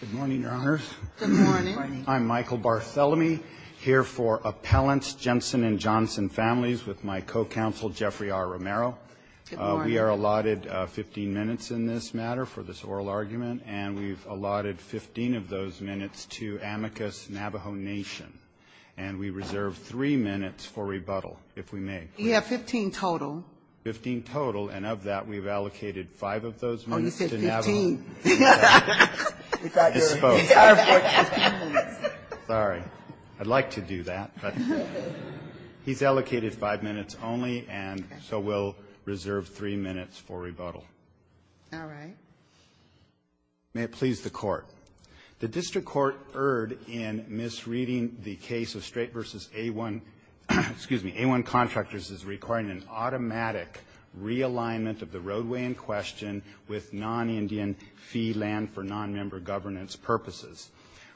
Good morning, Your Honors. Good morning. I'm Michael Barthelemy, here for Appellants Jensen and Johnson Families with my co-counsel, Jeffrey R. Romero. Good morning. We are allotted 15 minutes in this matter for this oral argument, and we've allotted 15 of those minutes to Amicus Navajo Nation. And we reserve three minutes for rebuttal, if we may. We have 15 total. Fifteen total, and of that, we've allocated five of those minutes to Navajo Nation. Oh, you said 15. Disposed. Sorry. I'd like to do that, but he's allocated five minutes only, and so we'll reserve three minutes for rebuttal. All right. May it please the Court. The district court erred in misreading the case of Straight v. A1. Excuse me. A1 Contractors is requiring an automatic realignment of the roadway in question with non-Indian fee land for nonmember governance purposes.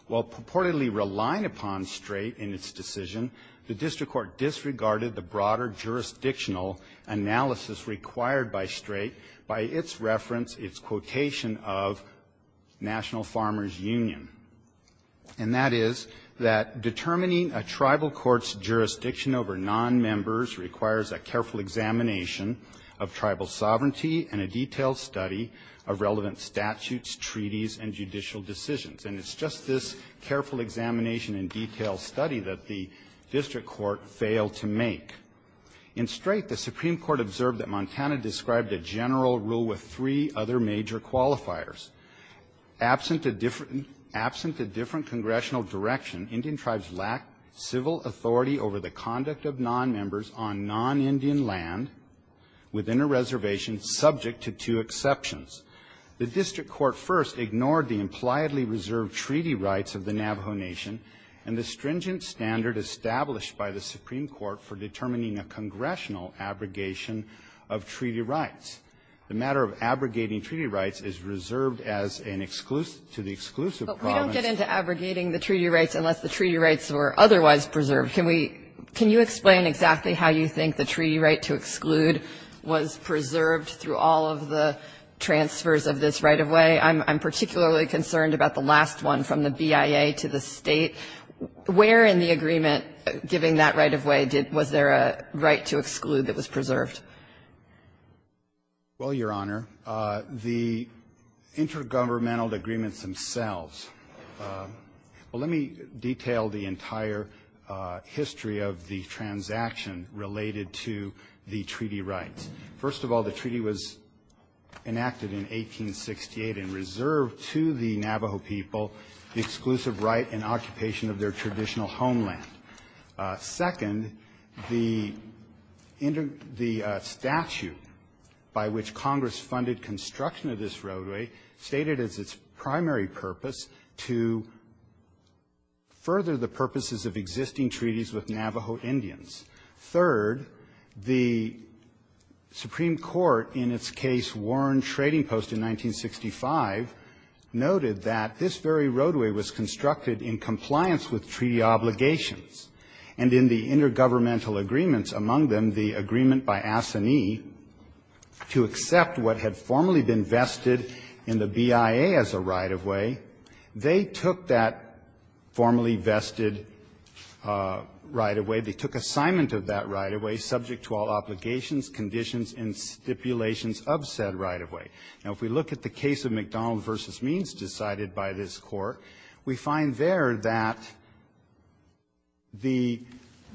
While purportedly relying upon Straight in its decision, the district court disregarded the broader jurisdictional analysis required by Straight by its reference, its quotation of National Farmers Union. And that is that determining a tribal court's jurisdiction over nonmembers requires a careful examination of tribal sovereignty and a detailed study of relevant statutes, treaties, and judicial decisions. And it's just this careful examination and detailed study that the district court failed to make. In Straight, the Supreme Court observed that Montana described a general rule with three other major qualifiers. Absent a different congressional direction, Indian tribes lack civil authority over the conduct of nonmembers on non-Indian land within a reservation subject to two exceptions. The district court first ignored the impliedly reserved treaty rights of the Navajo Nation and the stringent standard established by the Supreme Court for determining a congressional abrogation of treaty rights. The matter of abrogating treaty rights is reserved as an exclusive to the exclusive Kagan. But we don't get into abrogating the treaty rights unless the treaty rights were otherwise preserved. Can we can you explain exactly how you think the treaty right to exclude was preserved through all of the transfers of this right-of-way? I'm particularly concerned about the last one from the BIA to the State. Where in the agreement giving that right-of-way was there a right to exclude that Well, Your Honor, the intergovernmental agreements themselves, well, let me detail the entire history of the transaction related to the treaty rights. First of all, the treaty was enacted in 1868 and reserved to the Navajo people the exclusive right and occupation of their traditional homeland. Second, the statute by which Congress funded construction of this roadway stated as its primary purpose to further the purposes of existing treaties with Navajo Indians. Third, the Supreme Court in its case Warren Trading Post in 1965 noted that this very right-of-way was subject to all obligations. And in the intergovernmental agreements, among them the agreement by Assanee to accept what had formerly been vested in the BIA as a right-of-way, they took that formerly vested right-of-way, they took assignment of that right-of-way subject to all obligations, conditions, and stipulations of said right-of-way. Now, if we look at the case of McDonald v. Means decided by this Court, we find there that the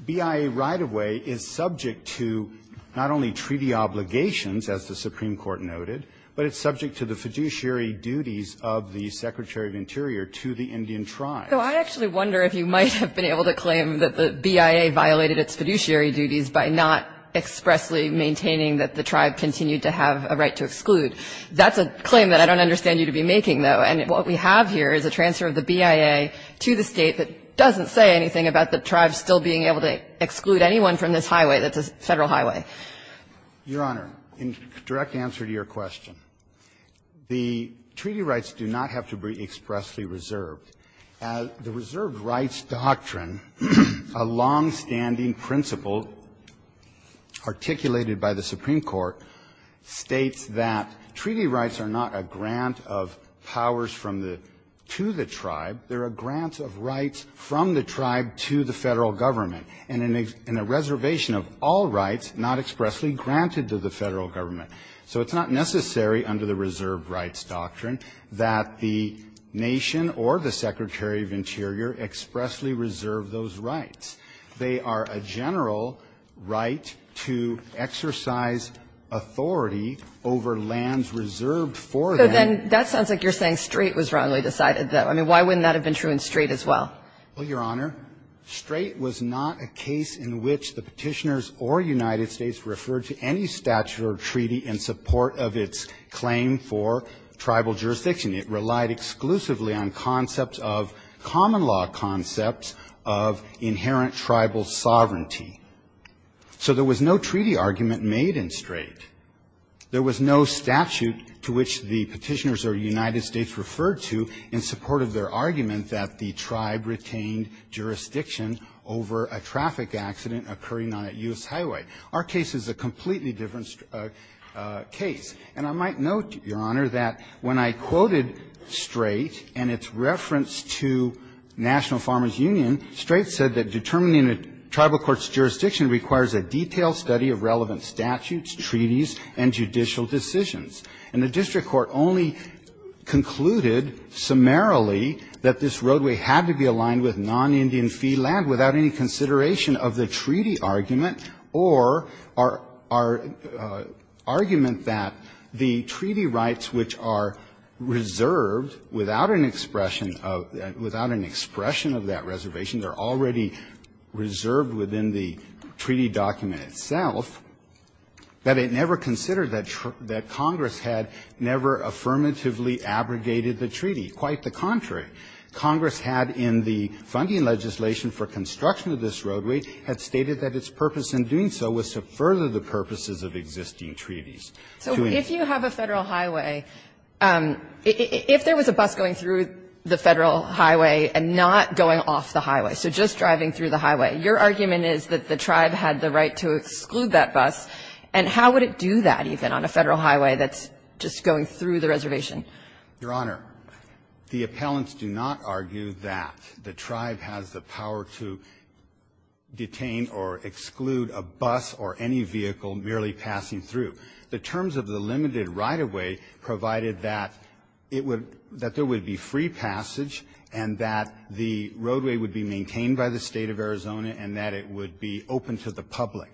BIA right-of-way is subject to not only treaty obligations, as the Supreme Court noted, but it's subject to the fiduciary duties of the Secretary of Interior to the Indian tribe. So I actually wonder if you might have been able to claim that the BIA violated its fiduciary duties by not expressly maintaining that the tribe continued to have a right to exclude. That's a claim that I don't understand you to be making, though, and what we have here is a transfer of the BIA to the State that doesn't say anything about the tribe still being able to exclude anyone from this highway that's a Federal highway. Your Honor, in direct answer to your question, the treaty rights do not have to be expressly reserved. The reserved rights doctrine, a longstanding principle articulated by the Supreme Court, states that treaty rights are not a grant of powers from the to the tribe. They're a grant of rights from the tribe to the Federal Government, and in a reservation of all rights not expressly granted to the Federal Government. So it's not necessary under the reserved rights doctrine that the nation or the Secretary of Interior expressly reserve those rights. They are a general right to exercise authority over lands reserved for them. So then that sounds like you're saying Strait was wrongly decided, though. I mean, why wouldn't that have been true in Strait as well? Well, Your Honor, Strait was not a case in which the Petitioners or United States referred to any statute or treaty in support of its claim for tribal jurisdiction. It relied exclusively on concepts of common law concepts of inherent tribal sovereignty. So there was no treaty argument made in Strait. There was no statute to which the Petitioners or United States referred to in support of their argument that the tribe retained jurisdiction over a traffic accident occurring on a U.S. highway. Our case is a completely different case. And I might note, Your Honor, that when I quoted Strait and its reference to National Farmers Union, Strait said that determining a tribal court's jurisdiction requires a detailed study of relevant statutes, treaties, and judicial decisions. And the district court only concluded summarily that this roadway had to be aligned with non-Indian fee land without any consideration of the treaty argument or our argument that the treaty rights which are reserved without an expression of that reservation, they're already reserved within the treaty document itself, that it never considered that Congress had never affirmatively abrogated the treaty. Quite the contrary. Congress had in the funding legislation for construction of this roadway, had stated that its purpose in doing so was to further the purposes of existing treaties. So if you have a Federal highway, if there was a bus going through the Federal highway and not going off the highway, so just driving through the highway, your argument is that the tribe had the right to exclude that bus, and how would it do that even on a Federal highway that's just going through the reservation? Your Honor, the appellants do not argue that the tribe has the power to detain or exclude a bus or any vehicle merely passing through. The terms of the limited right-of-way provided that it would be free passage and that the roadway would be maintained by the State of Arizona and that it would be open to the public.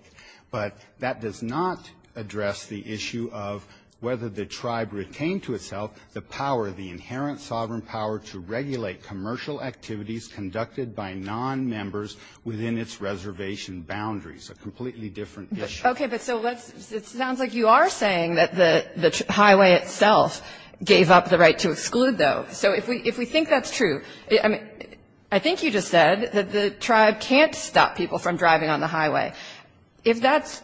But that does not address the issue of whether the tribe retained to itself the power, the inherent sovereign power to regulate commercial activities conducted by nonmembers within its reservation boundaries, a completely different issue. Okay. But so let's – it sounds like you are saying that the highway itself gave up the right to exclude, though. So if we think that's true – I mean, I think you just said that the tribe can't stop people from driving on the highway. If that's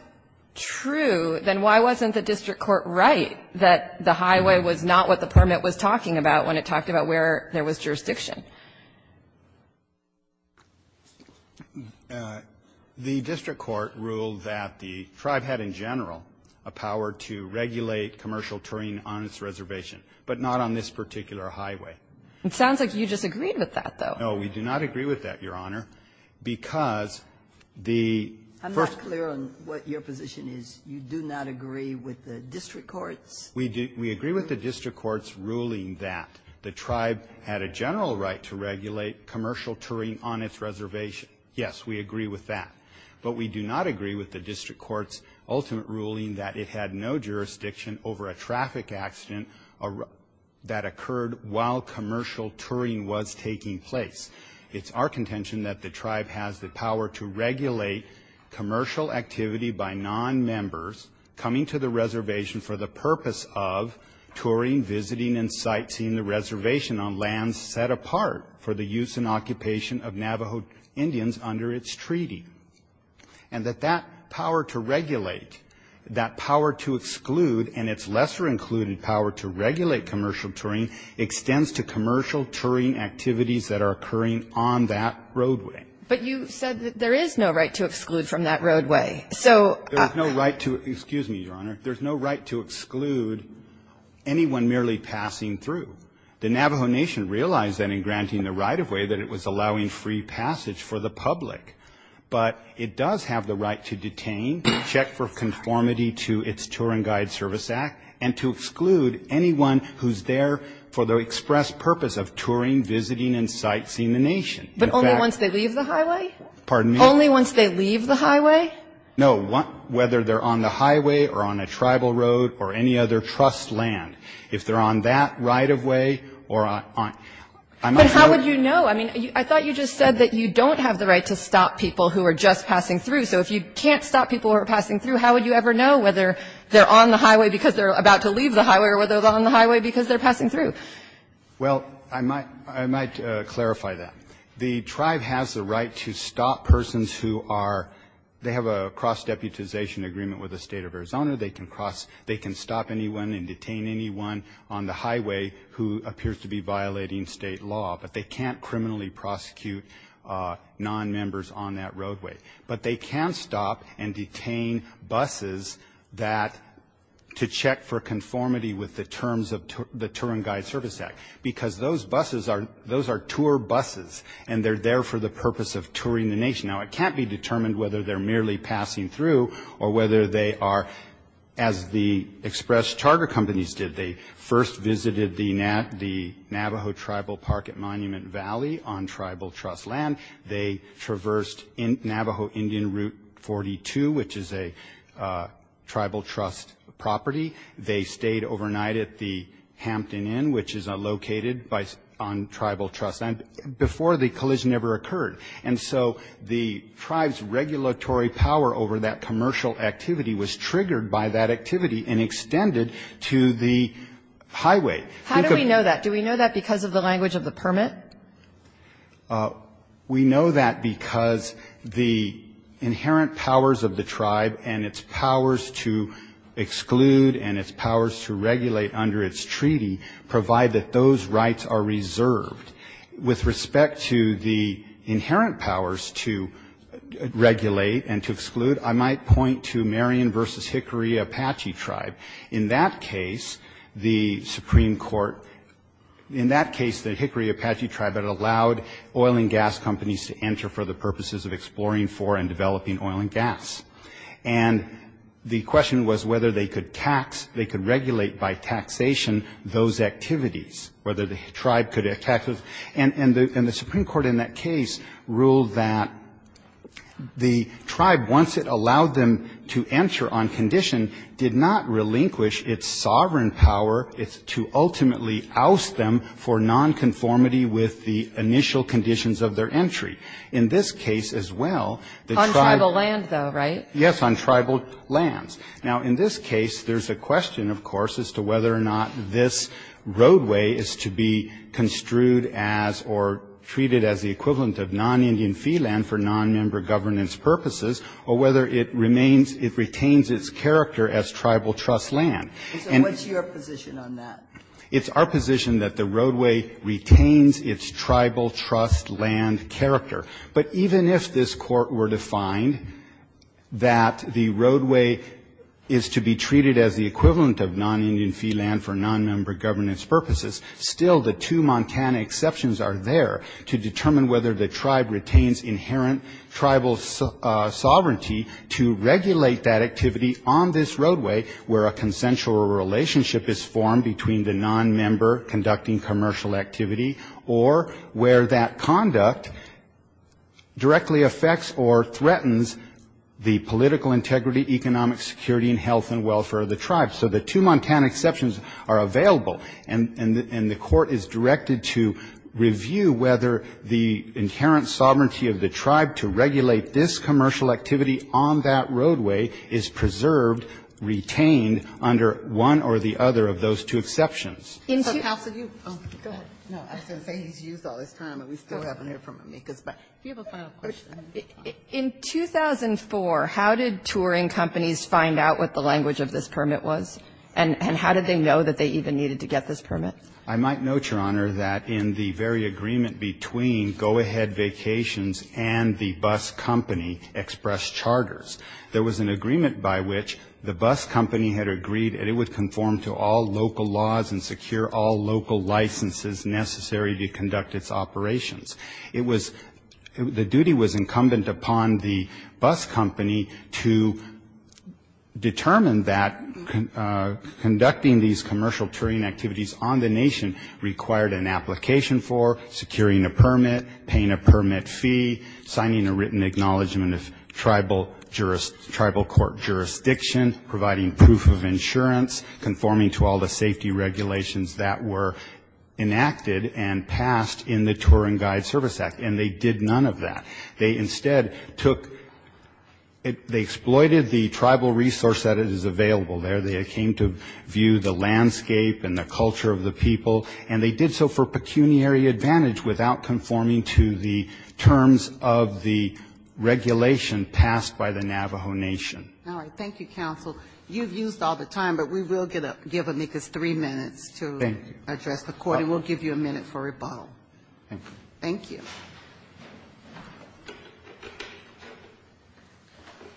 true, then why wasn't the district court right that the highway was not what the permit was talking about when it talked about where there was jurisdiction? The district court ruled that the tribe had in general a power to regulate commercial terrain on its reservation, but not on this particular highway. It sounds like you disagreed with that, though. No, we do not agree with that, Your Honor, because the first – I'm not clear on what your position is. You do not agree with the district courts? We agree with the district courts' ruling that the tribe had a general right to regulate commercial terrain on its reservation. Yes, we agree with that. But we do not agree with the district court's ultimate ruling that it had no jurisdiction over a traffic accident that occurred while commercial touring was taking place. It's our contention that the tribe has the power to regulate commercial activity by non-members coming to the reservation for the purpose of touring, visiting, and sightseeing the reservation on lands set apart for the use and occupation of Navajo Indians under its treaty. And that that power to regulate, that power to exclude, and its lesser included power to regulate commercial touring extends to commercial touring activities that are occurring on that roadway. But you said that there is no right to exclude from that roadway. There's no right to – excuse me, Your Honor – there's no right to exclude anyone merely passing through. The Navajo Nation realized that in granting the right-of-way that it was allowing free passage for the public. But it does have the right to detain, check for conformity to its Touring Guide Service Act, and to exclude anyone who's there for the express purpose of touring, visiting, and sightseeing the Nation. But only once they leave the highway? Pardon me? Only once they leave the highway? No, whether they're on the highway or on a tribal road or any other trust land. If they're on that right-of-way or on – I might know – But how would you know? I mean, I thought you just said that you don't have the right to stop people who are just passing through. So if you can't stop people who are passing through, how would you ever know whether they're on the highway because they're about to leave the highway or whether they're on the highway because they're passing through? Well, I might – I might clarify that. The tribe has the right to stop persons who are – they have a cross-deputization agreement with the State of Arizona. They can cross – they can stop anyone and detain anyone on the highway who appears to be violating State law. But they can't criminally prosecute nonmembers on that roadway. But they can stop and detain buses that – to check for conformity with the terms of the Tour and Guide Service Act. Because those buses are – those are tour buses, and they're there for the purpose of touring the Nation. Now, it can't be determined whether they're merely passing through or whether they are as the express charter companies did. They first visited the Navajo Tribal Park at Monument Valley on tribal trust land. They traversed Navajo Indian Route 42, which is a tribal trust property. They stayed overnight at the Hampton Inn, which is located by – on tribal trust land before the collision ever occurred. And so the tribe's regulatory power over that commercial activity was triggered by that activity and extended to the highway. Think of – How do we know that? Do we know that because of the language of the permit? We know that because the inherent powers of the tribe and its powers to exclude and its powers to regulate under its treaty provide that those rights are reserved. With respect to the inherent powers to regulate and to exclude, I might point to Marion v. Hickory Apache Tribe. In that case, the Supreme Court – in that case, the Hickory Apache Tribe had allowed oil and gas companies to enter for the purposes of exploring for and developing oil and gas. And the question was whether they could tax – they could regulate by taxation those activities, whether the tribe could – and the Supreme Court in that case ruled that the tribe, once it allowed them to enter on condition, did not relinquish its sovereign power to ultimately oust them for nonconformity with the initial conditions of their entry. In this case as well, the tribe – On tribal land, though, right? Yes, on tribal lands. Now, in this case, there's a question, of course, as to whether or not this roadway is to be construed as or treated as the equivalent of non-Indian fee land for nonmember governance purposes, or whether it remains – it retains its character as tribal trust land. And what's your position on that? It's our position that the roadway retains its tribal trust land character. But even if this Court were to find that the roadway is to be treated as the equivalent of non-Indian fee land for nonmember governance purposes, still the two Montana exceptions are there to determine whether the tribe retains inherent tribal sovereignty to regulate that activity on this roadway where a consensual relationship is formed between the nonmember conducting commercial activity or where that conduct directly affects or threatens the political integrity, economic security, and health and welfare of the tribe. So the two Montana exceptions are available, and the Court is directed to review whether the inherent sovereignty of the tribe to regulate this commercial activity on that roadway is preserved, retained, under one or the other of those two exceptions. In 2004, how did touring companies find out what the language of this permit was? And how did they know that they even needed to get this permit? I might note, Your Honor, that in the very agreement between Go Ahead Vacations and the bus company, Express Charters, there was an agreement by which the bus company had agreed that it would conform to all local laws and secure all local licenses necessary to conduct its operations. It was, the duty was incumbent upon the bus company to determine that conducting these commercial touring activities on the nation required an application for securing a permit, paying a permit fee, signing a written acknowledgment of tribal court jurisdiction, providing proof of insurance, conforming to all the safety regulations that were enacted and passed in the Touring Guides Service Act. And they did none of that. They instead took, they exploited the tribal resource that is available there. They came to view the landscape and the culture of the people. And they did so for pecuniary advantage without conforming to the terms of the regulation passed by the Navajo Nation. All right. Thank you, counsel. You've used all the time, but we will give Amicus three minutes to. Thank you. Address the Court, and we'll give you a minute for rebuttal. Thank you. Thank you.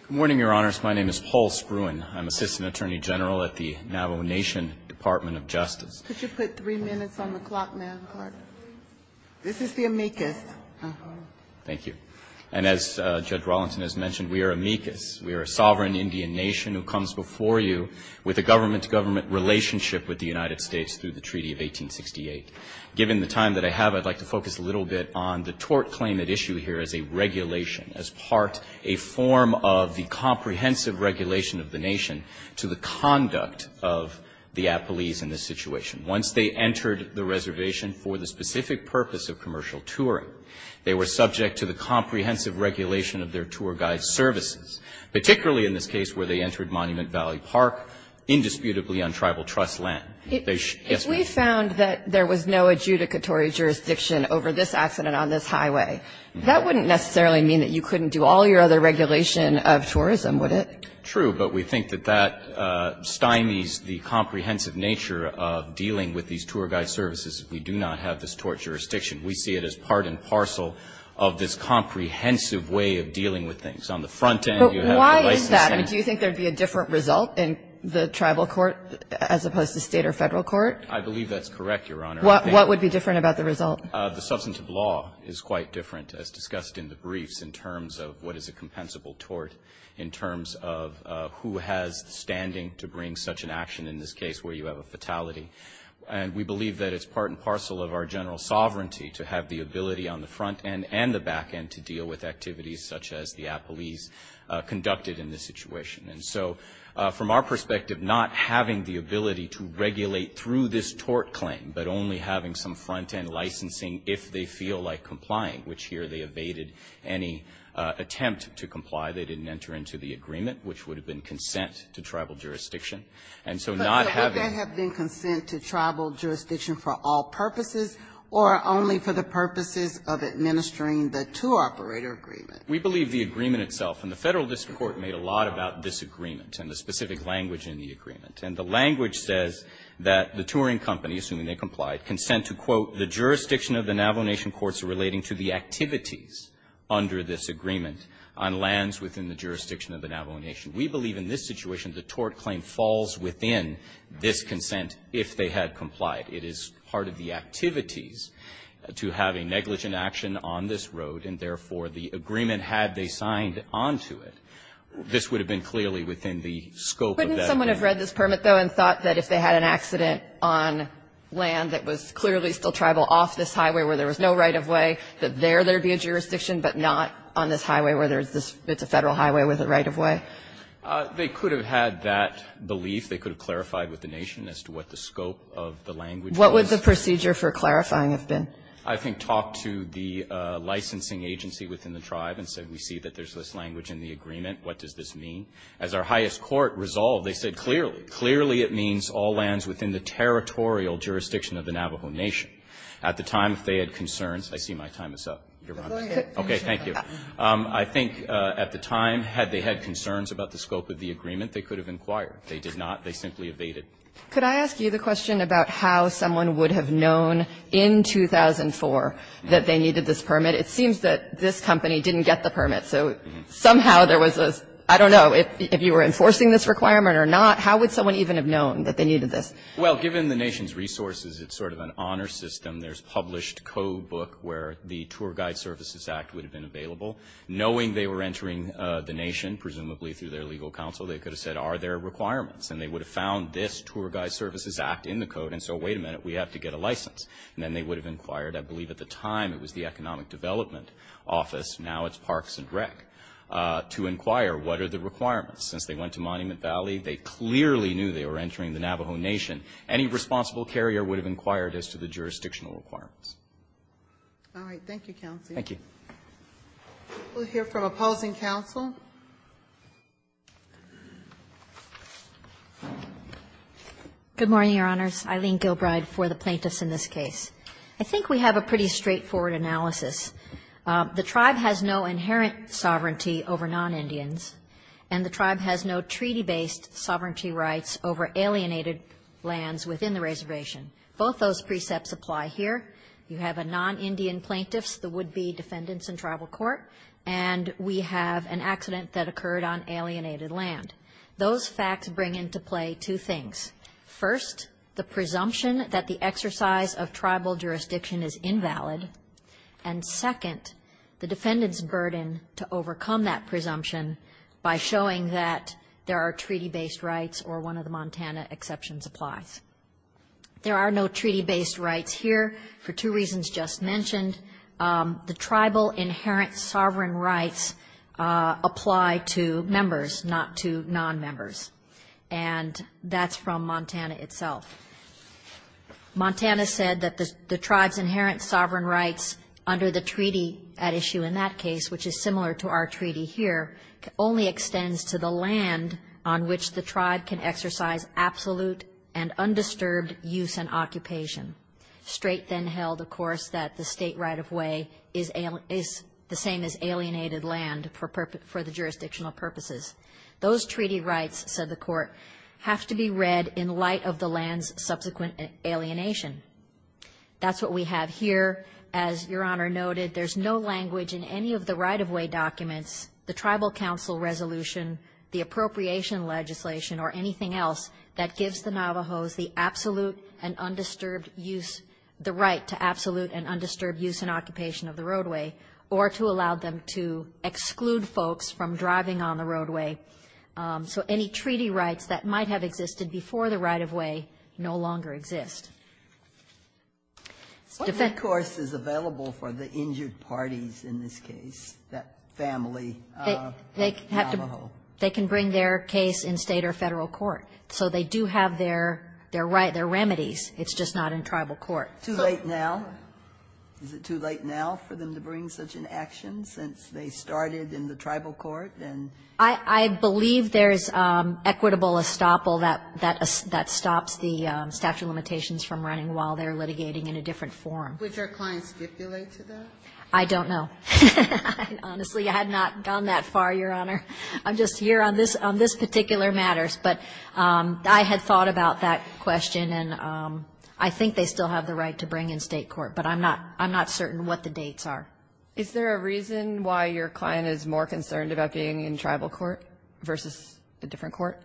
Good morning, Your Honors. My name is Paul Spruan. I'm Assistant Attorney General at the Navajo Nation Department of Justice. Could you put three minutes on the clock, ma'am? Pardon me. This is the Amicus. Thank you. And as Judge Rollinson has mentioned, we are Amicus. We are a sovereign Indian nation who comes before you with a government-to-government relationship with the United States through the Treaty of 1868. Given the time that I have, I'd like to focus a little bit on the tort claim at issue here as a regulation, as part, a form of the comprehensive regulation of the nation to the conduct of the appellees in this situation. Once they entered the reservation for the specific purpose of commercial touring, they were subject to the comprehensive regulation of their tour guide services, particularly in this case where they entered Monument Valley Park, indisputably untribal trust land. If we found that there was no adjudicatory jurisdiction over this accident on this highway, that wouldn't necessarily mean that you couldn't do all your other regulation of tourism, would it? True, but we think that that stymies the comprehensive nature of dealing with these tour guide services if we do not have this tort jurisdiction. We see it as part and parcel of this comprehensive way of dealing with things. On the front end, you have the licensing. But why is that? I mean, do you think there would be a different result in the tribal court as opposed to State or Federal court? I believe that's correct, Your Honor. What would be different about the result? The substantive law is quite different, as discussed in the briefs, in terms of what is a compensable tort, in terms of who has the standing to bring such an action in this case where you have a fatality. And we believe that it's part and parcel of our general sovereignty to have the ability on the front end and the back end to deal with activities such as the appellees conducted in this situation. And so from our perspective, not having the ability to regulate through this tort claim, but only having some front end licensing if they feel like complying, which here they evaded any attempt to comply. They didn't enter into the agreement, which would have been consent to tribal jurisdiction. And so not having the opportunity to do so. But would that have been consent to tribal jurisdiction for all purposes or only for the purposes of administering the tour operator agreement? We believe the agreement itself, and the Federal District Court made a lot about this agreement and the specific language in the agreement. And the language says that the touring company, assuming they complied, consent to, quote, the jurisdiction of the Navajo Nation courts relating to the activities under this agreement on lands within the jurisdiction of the Navajo Nation. We believe in this situation the tort claim falls within this consent if they had complied. It is part of the activities to have a negligent action on this road, and therefore the agreement, had they signed onto it, this would have been clearly within the scope Kagan, couldn't someone have read this permit, though, and thought that if they had an accident on land that was clearly still tribal off this highway where there was no right-of-way, that there, there would be a jurisdiction, but not on this highway where there's this, it's a Federal highway with a right-of-way? They could have had that belief. They could have clarified with the Nation as to what the scope of the language was. What would the procedure for clarifying have been? I think talk to the licensing agency within the tribe and say we see that there's this language in the agreement. What does this mean? As our highest court resolved, they said clearly, clearly it means all lands within the territorial jurisdiction of the Navajo Nation. At the time, if they had concerns, I see my time is up. Your Honor. Okay. Thank you. I think at the time, had they had concerns about the scope of the agreement, they could have inquired. They did not. They simply evaded. Could I ask you the question about how someone would have known in 2004 that they needed this permit? It seems that this company didn't get the permit, so somehow there was a, I don't know, if you were enforcing this requirement or not, how would someone even have known that they needed this? Well, given the Nation's resources, it's sort of an honor system. There's published code book where the Tour Guide Services Act would have been available. Knowing they were entering the Nation, presumably through their legal counsel, they could have said are there requirements? And they would have found this Tour Guide Services Act in the code, and so wait a minute, we have to get a license. And then they would have inquired, I believe at the time it was the Economic Development Office, now it's Parks and Rec, to inquire what are the requirements. Since they went to Monument Valley, they clearly knew they were entering the Navajo Nation. Any responsible carrier would have inquired as to the jurisdictional requirements. All right. Thank you, counsel. Thank you. We'll hear from opposing counsel. Good morning, Your Honors. Eileen Gilbride for the plaintiffs in this case. I think we have a pretty straightforward analysis. The Tribe has no inherent sovereignty over non-Indians, and the Tribe has no treaty-based sovereignty rights over alienated lands within the reservation. Both those precepts apply here. You have a non-Indian plaintiffs, the would-be defendants in tribal court, and we have an accident that occurred on alienated land. Those facts bring into play two things. First, the presumption that the exercise of tribal jurisdiction is invalid. And second, the defendant's burden to overcome that presumption by showing that there are treaty-based rights or one of the Montana exceptions applies. There are no treaty-based rights here for two reasons just mentioned. The tribal inherent sovereign rights apply to members, not to non-members. And that's from Montana itself. Montana said that the Tribe's inherent sovereign rights under the treaty at issue in that case, which is similar to our treaty here, only extends to the land on which the Tribe can exercise absolute and undisturbed use and occupation. Straight then held, of course, that the state right-of-way is the same as alienated land for the jurisdictional purposes. Those treaty rights, said the court, have to be read in light of the land's subsequent alienation. That's what we have here. As Your Honor noted, there's no language in any of the right-of-way documents, the tribal council resolution, the appropriation legislation, or anything else that gives the Navajos the absolute and undisturbed use, the right to absolute and undisturbed use and occupation of the roadway, or to allow them to exclude folks from driving on the roadway. So any treaty rights that might have existed before the right-of-way no longer exist. Defendant... What recourse is available for the injured parties in this case, that family Navajo? They can bring their case in state or federal court. So they do have their right, their remedies. It's just not in tribal court. Too late now? Is it too late now for them to bring such an action since they started in the tribal court and... I believe there's equitable estoppel that stops the statute of limitations from running while they're litigating in a different forum. Would your client stipulate to that? I don't know. Honestly, I had not gone that far, Your Honor. I'm just here on this particular matter. But I had thought about that question, and I think they still have the right to bring in state court, but I'm not certain what the dates are. Is there a reason why your client is more concerned about being in tribal court versus a different court?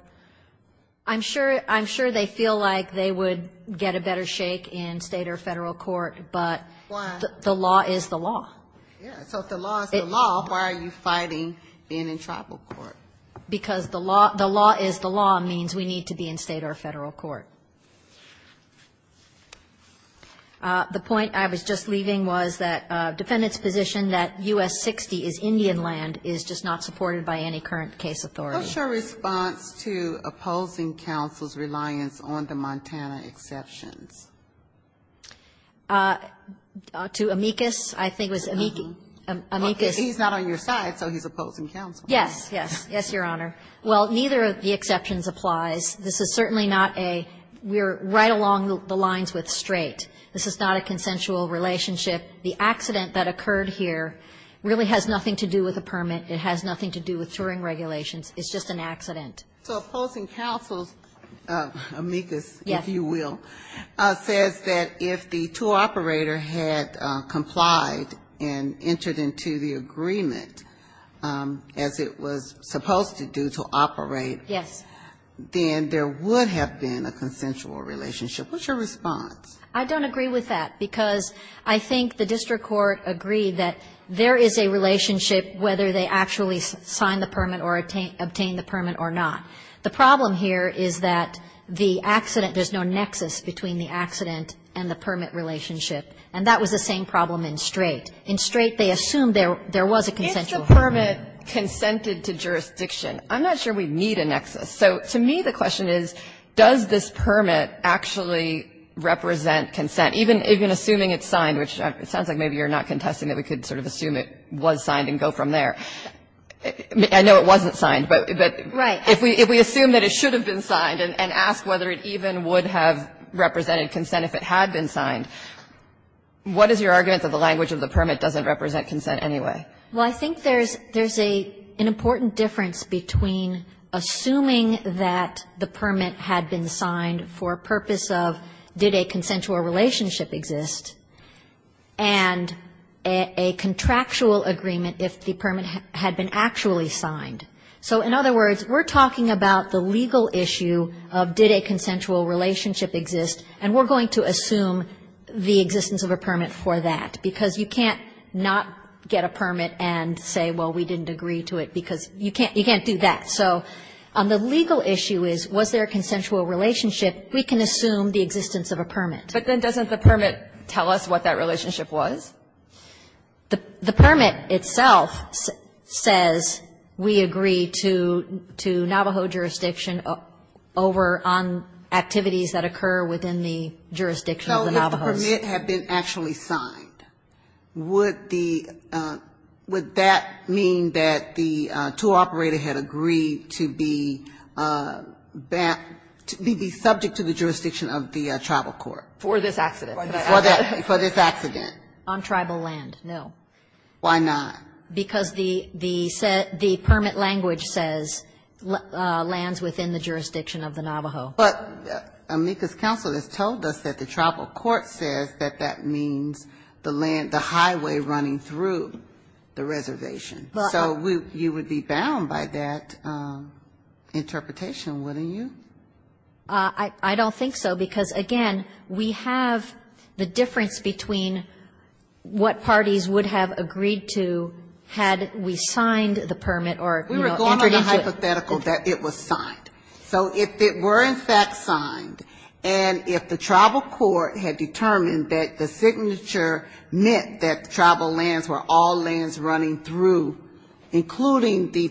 I'm sure they feel like they would get a better shake in state or federal court, but the law is the law. Yeah. So if the law is the law, why are you fighting being in tribal court? Because the law is the law means we need to be in state or federal court. The point I was just leaving was that defendant's position that U.S. 60 is Indian land is just not supported by any current case authority. What's your response to opposing counsel's reliance on the Montana exceptions? To amicus? I think it was amicus. He's not on your side, so he's opposing counsel. Yes. Yes. Yes, Your Honor. Well, neither of the exceptions applies. This is certainly not a we're right along the lines with straight. This is not a consensual relationship. The accident that occurred here really has nothing to do with a permit. It has nothing to do with Turing regulations. It's just an accident. So opposing counsel's amicus, if you will, says that if the two operator had complied and entered into the agreement as it was supposed to do to operate, then there would have been a consensual relationship. What's your response? I don't agree with that because I think the district court agreed that there is a relationship whether they actually sign the permit or obtain the permit or not. The problem here is that the accident, there's no nexus between the accident and the permit relationship, and that was the same problem in straight. In straight, they assumed there was a consensual relationship. If the permit consented to jurisdiction, I'm not sure we need a nexus. So to me, the question is, does this permit actually represent consent, even assuming it's signed, which it sounds like maybe you're not contesting that we could sort of assume it was signed and go from there. I know it wasn't signed, but if we assume that it should have been signed and ask whether it even would have represented consent if it had been signed, what is your argument that the language of the permit doesn't represent consent anyway? Well, I think there's an important difference between assuming that the permit had been signed for a purpose of did a consensual relationship exist and a contractual agreement if the permit had been actually signed. So in other words, we're talking about the legal issue of did a consensual relationship exist, and we're going to assume the existence of a permit for that, because you can't not get a permit and say, well, we didn't agree to it, because you can't do that. So the legal issue is, was there a consensual relationship? We can assume the existence of a permit. But then doesn't the permit tell us what that relationship was? The permit itself says we agree to Navajo jurisdiction over activities that occur within the jurisdiction of the Navajos. So if the permit had been actually signed, would that mean that the tool operator had agreed to be subject to the jurisdiction of the tribal court? For this accident. For this accident. On tribal land. No. Why not? Because the permit language says lands within the jurisdiction of the Navajo. But Amica's counsel has told us that the tribal court says that that means the highway running through the reservation. So you would be bound by that interpretation, wouldn't you? I don't think so. Because, again, we have the difference between what parties would have agreed to had we signed the permit or, you know, introduced it. We were going on a hypothetical that it was signed. So if it were in fact signed, and if the tribal court had determined that the signature meant that tribal lands were all lands running through, including the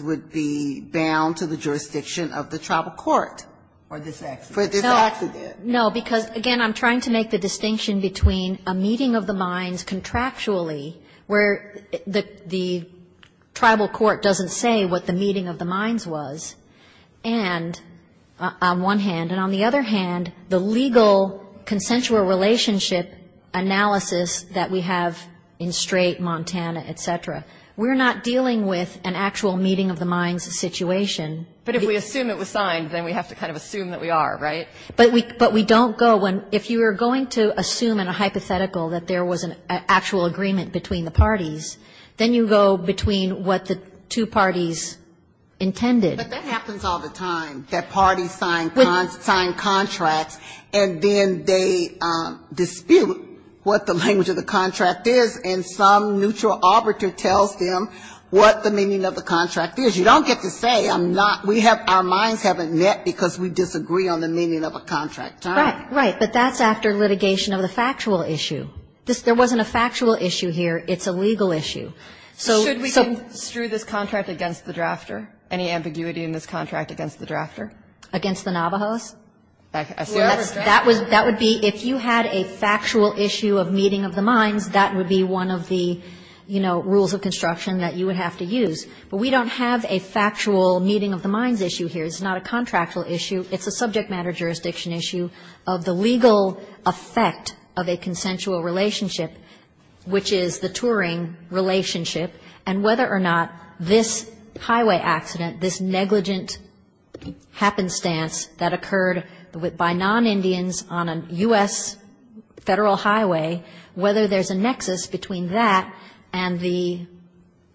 would be bound to the jurisdiction of the tribal court. For this accident. For this accident. No. Because, again, I'm trying to make the distinction between a meeting of the minds contractually where the tribal court doesn't say what the meeting of the minds was and, on one hand, and on the other hand, the legal consensual relationship analysis that we have in Strait, Montana, et cetera. We're not dealing with an actual meeting of the minds situation. But if we assume it was signed, then we have to kind of assume that we are, right? But we don't go. If you were going to assume in a hypothetical that there was an actual agreement between the parties, then you go between what the two parties intended. But that happens all the time, that parties sign contracts, and then they dispute what the language of the contract is, and some neutral arbiter tells them what the meaning of the contract is. You don't get to say, I'm not, we have, our minds haven't met because we disagree on the meaning of a contract. Right. Right. But that's after litigation of the factual issue. There wasn't a factual issue here. It's a legal issue. So. So. Should we construe this contract against the drafter? Against the Navajos? That would be if you had a factual issue. If you had a factual issue of meeting of the minds, that would be one of the, you know, rules of construction that you would have to use. But we don't have a factual meeting of the minds issue here. It's not a contractual issue. It's a subject matter jurisdiction issue of the legal effect of a consensual relationship, which is the Turing relationship, and whether or not this highway accident, this negligent happenstance that occurred by non-Indians on a U.S. federal highway, whether there's a nexus between that and the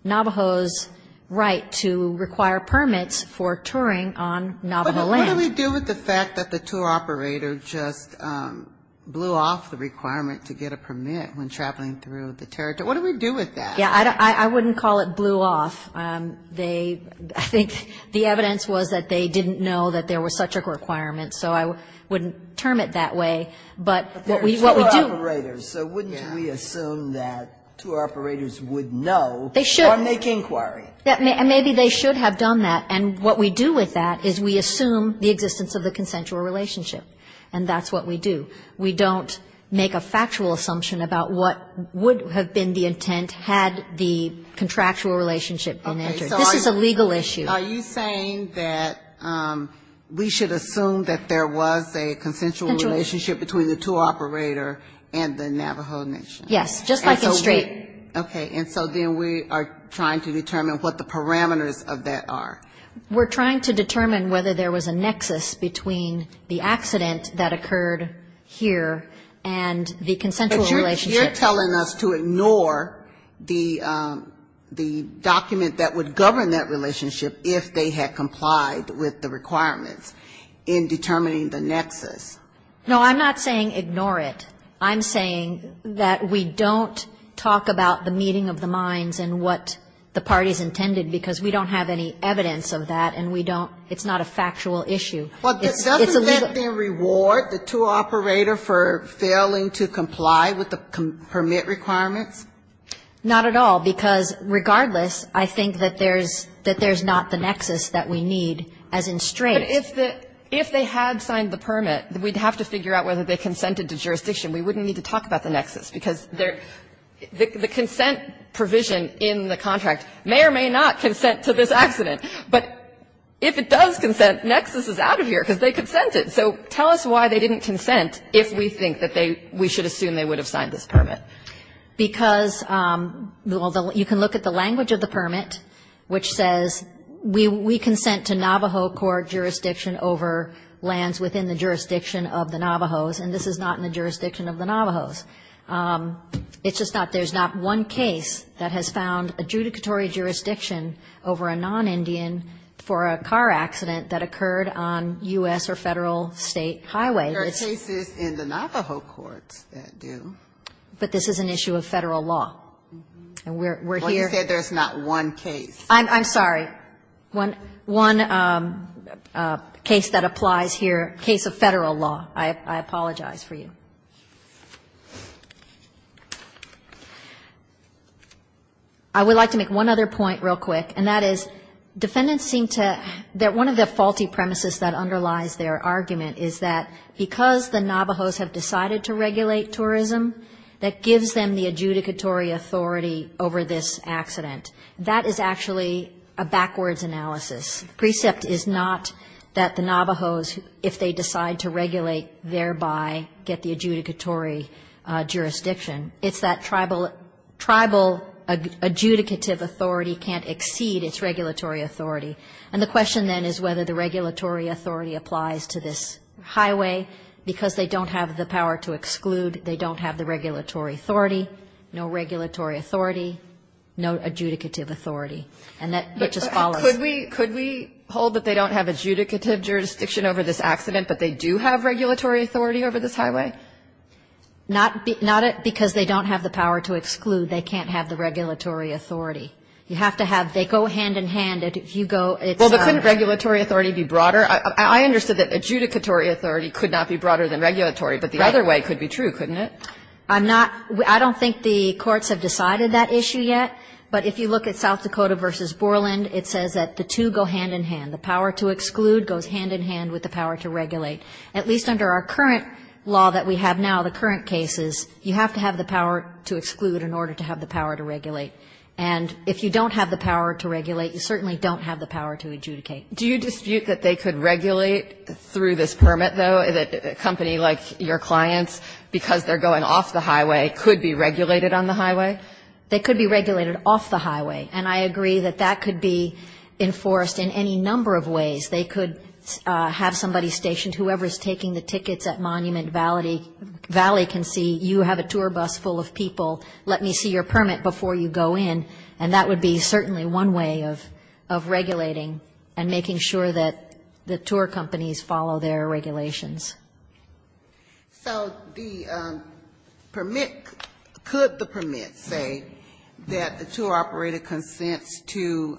Navajos' right to require permits for touring on Navajo land. What do we do with the fact that the tour operator just blew off the requirement to get a permit when traveling through the territory? What do we do with that? Yeah. I wouldn't call it blew off. They, I think the evidence was that they didn't know that there was such a requirement. So I wouldn't term it that way. But what we do. But there are tour operators. So wouldn't we assume that tour operators would know or make inquiry? They should. Maybe they should have done that. And what we do with that is we assume the existence of the consensual relationship. And that's what we do. We don't make a factual assumption about what would have been the intent had the contractual relationship been entered. This is a legal issue. Are you saying that we should assume that there was a consensual relationship between the tour operator and the Navajo Nation? Yes. Just like it's straight. Okay. And so then we are trying to determine what the parameters of that are. We're trying to determine whether there was a nexus between the accident that occurred here and the consensual relationship. But you're telling us to ignore the document that would govern that relationship if they had complied with the requirements in determining the nexus. No, I'm not saying ignore it. I'm saying that we don't talk about the meeting of the minds and what the parties intended because we don't have any evidence of that and we don't – it's not a factual issue. Well, doesn't that then reward the tour operator for failing to comply with the permit requirements? Not at all. Because regardless, I think that there's not the nexus that we need as in straight. But if they had signed the permit, we'd have to figure out whether they consented to jurisdiction. We wouldn't need to talk about the nexus because the consent provision in the contract may or may not consent to this accident. But if it does consent, nexus is out of here because they consented. So tell us why they didn't consent if we think that they – we should assume they would have signed this permit. Because you can look at the language of the permit, which says we consent to Navajo court jurisdiction over lands within the jurisdiction of the Navajos. And this is not in the jurisdiction of the Navajos. It's just not – there's not one case that has found adjudicatory jurisdiction over a non-Indian for a car accident that occurred on U.S. or federal state highway. There are cases in the Navajo courts that do. But this is an issue of federal law. And we're here – Well, you said there's not one case. I'm sorry. One case that applies here, case of federal law. I apologize for you. I would like to make one other point real quick. And that is defendants seem to – one of the faulty premises that underlies their argument is that because the Navajos have decided to regulate tourism, that gives them the adjudicatory authority over this accident. That is actually a backwards analysis. Precept is not that the Navajos, if they decide to regulate, thereby get the adjudicatory jurisdiction. It's that tribal adjudicative authority can't exceed its regulatory authority. And the question then is whether the regulatory authority applies to this highway, because they don't have the power to exclude. They don't have the regulatory authority. No regulatory authority. No adjudicative authority. And that just follows. Could we hold that they don't have adjudicative jurisdiction over this accident, but they do have regulatory authority over this highway? Not because they don't have the power to exclude. They can't have the regulatory authority. You have to have – they go hand-in-hand. If you go – Well, but couldn't regulatory authority be broader? I understood that adjudicatory authority could not be broader than regulatory, but the other way could be true, couldn't it? I'm not – I don't think the courts have decided that issue yet, but if you look at South Dakota v. Borland, it says that the two go hand-in-hand. The power to exclude goes hand-in-hand with the power to regulate. At least under our current law that we have now, the current cases, you have to have the power to exclude in order to have the power to regulate. And if you don't have the power to regulate, you certainly don't have the power to adjudicate. Do you dispute that they could regulate through this permit, though, a company like your clients, because they're going off the highway, could be regulated on the highway? They could be regulated off the highway. And I agree that that could be enforced in any number of ways. They could have somebody stationed. Whoever is taking the tickets at Monument Valley can see, you have a tour bus full of people. Let me see your permit before you go in. And that would be certainly one way of regulating and making sure that the tour companies follow their regulations. So the permit, could the permit say that the tour operator consents to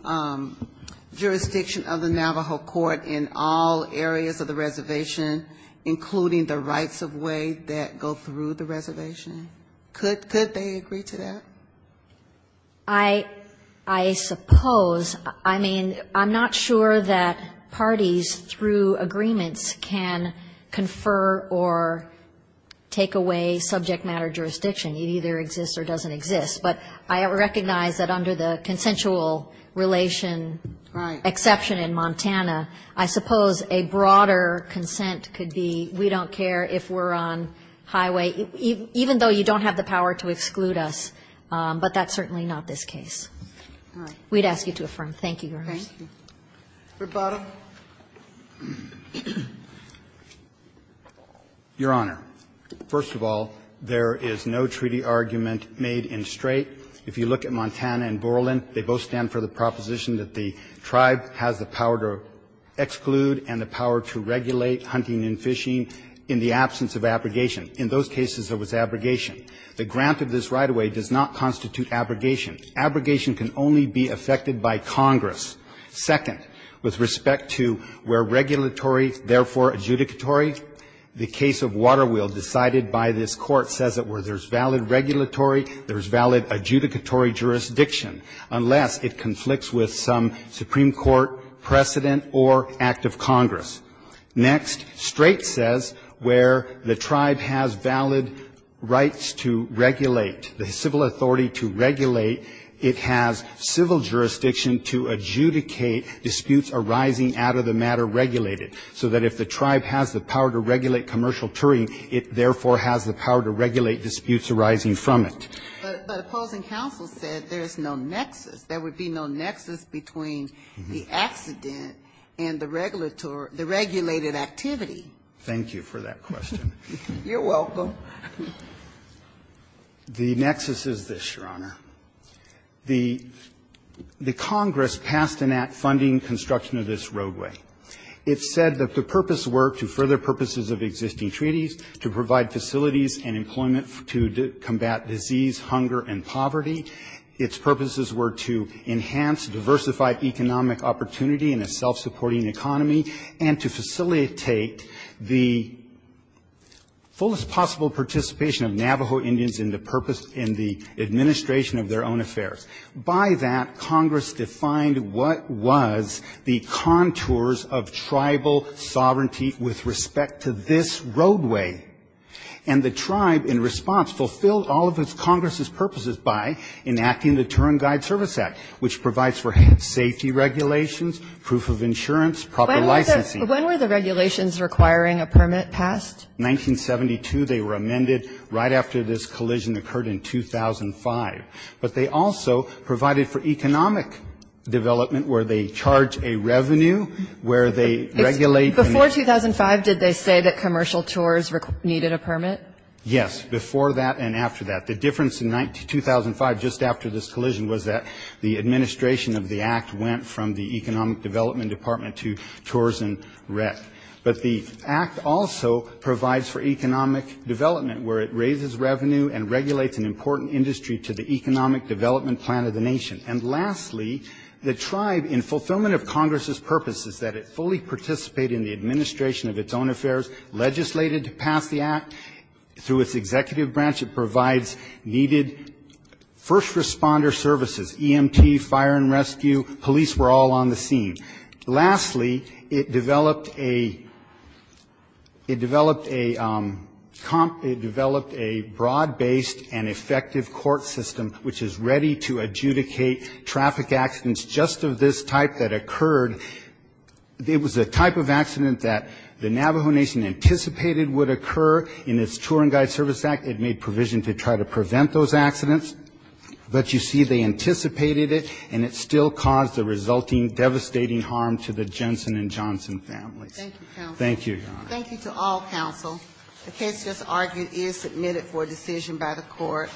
jurisdiction of the Navajo court in all areas of the reservation, including the rights-of-way that go through the reservation? Could they agree to that? I suppose. I mean, I'm not sure that parties, through agreements, can confer or take away subject matter jurisdiction. It either exists or doesn't exist. But I recognize that under the consensual relation exception in Montana, I suppose a broader consent could be, we don't care if we're on highway, even though you don't have the power to exclude us. But that's certainly not this case. We'd ask you to affirm. Thank you, Your Honor. Roberts. Your Honor, first of all, there is no treaty argument made in straight. If you look at Montana and Borland, they both stand for the proposition that the tribe has the power to exclude and the power to regulate hunting and fishing in the absence of abrogation. In those cases, there was abrogation. The grant of this right-of-way does not constitute abrogation. Abrogation can only be effected by Congress. Second, with respect to where regulatory, therefore adjudicatory, the case of Waterwheel, decided by this Court, says that where there's valid regulatory, there's valid adjudicatory jurisdiction, unless it conflicts with some Supreme Court precedent or act of Congress. Next, straight says where the tribe has valid rights to regulate, the civil authority to regulate, it has civil jurisdiction to adjudicate disputes arising out of the matter regulated. So that if the tribe has the power to regulate commercial touring, it therefore has the power to regulate disputes arising from it. But opposing counsel said there's no nexus. There would be no nexus between the accident and the regulated activity. Thank you for that question. You're welcome. The nexus is this, Your Honor. The Congress passed an act funding construction of this roadway. It said that the purpose were to further purposes of existing treaties, to provide facilities and employment to combat disease, hunger, and poverty. Its purposes were to enhance diversified economic opportunity in a self-supporting economy, and to facilitate the fullest possible participation of Navajo Indians in the administration of their own affairs. By that, Congress defined what was the contours of tribal sovereignty with respect to this roadway. And the tribe, in response, fulfilled all of its Congress's purposes by enacting the Touring Guide Service Act, which provides for safety regulations, proof of insurance, proper licensing. When were the regulations requiring a permit passed? 1972. They were amended right after this collision occurred in 2005. But they also provided for economic development, where they charge a revenue, where they regulate. Before 2005, did they say that commercial tours needed a permit? Yes, before that and after that. The difference in 2005, just after this collision, was that the administration of the Act went from the Economic Development Department to Tours and Rec. But the Act also provides for economic development, where it raises revenue and regulates an important industry to the economic development plan of the nation. And lastly, the tribe, in fulfillment of Congress's purposes, that it fully participate in the administration of its own affairs, legislated to pass the Act. Through its executive branch, it provides needed first responder services, EMT, fire and rescue, police were all on the scene. Lastly, it developed a broad-based and effective court system, which is ready to adjudicate traffic accidents just of this type that occurred. It was a type of accident that the Navajo Nation anticipated would occur in its Touring Guide Service Act. It made provision to try to prevent those accidents. But you see, they anticipated it, and it still caused the resulting devastating harm to the Jensen and Johnson families. Thank you, Your Honor. Thank you to all counsel. The case just argued is submitted for decision by the Court.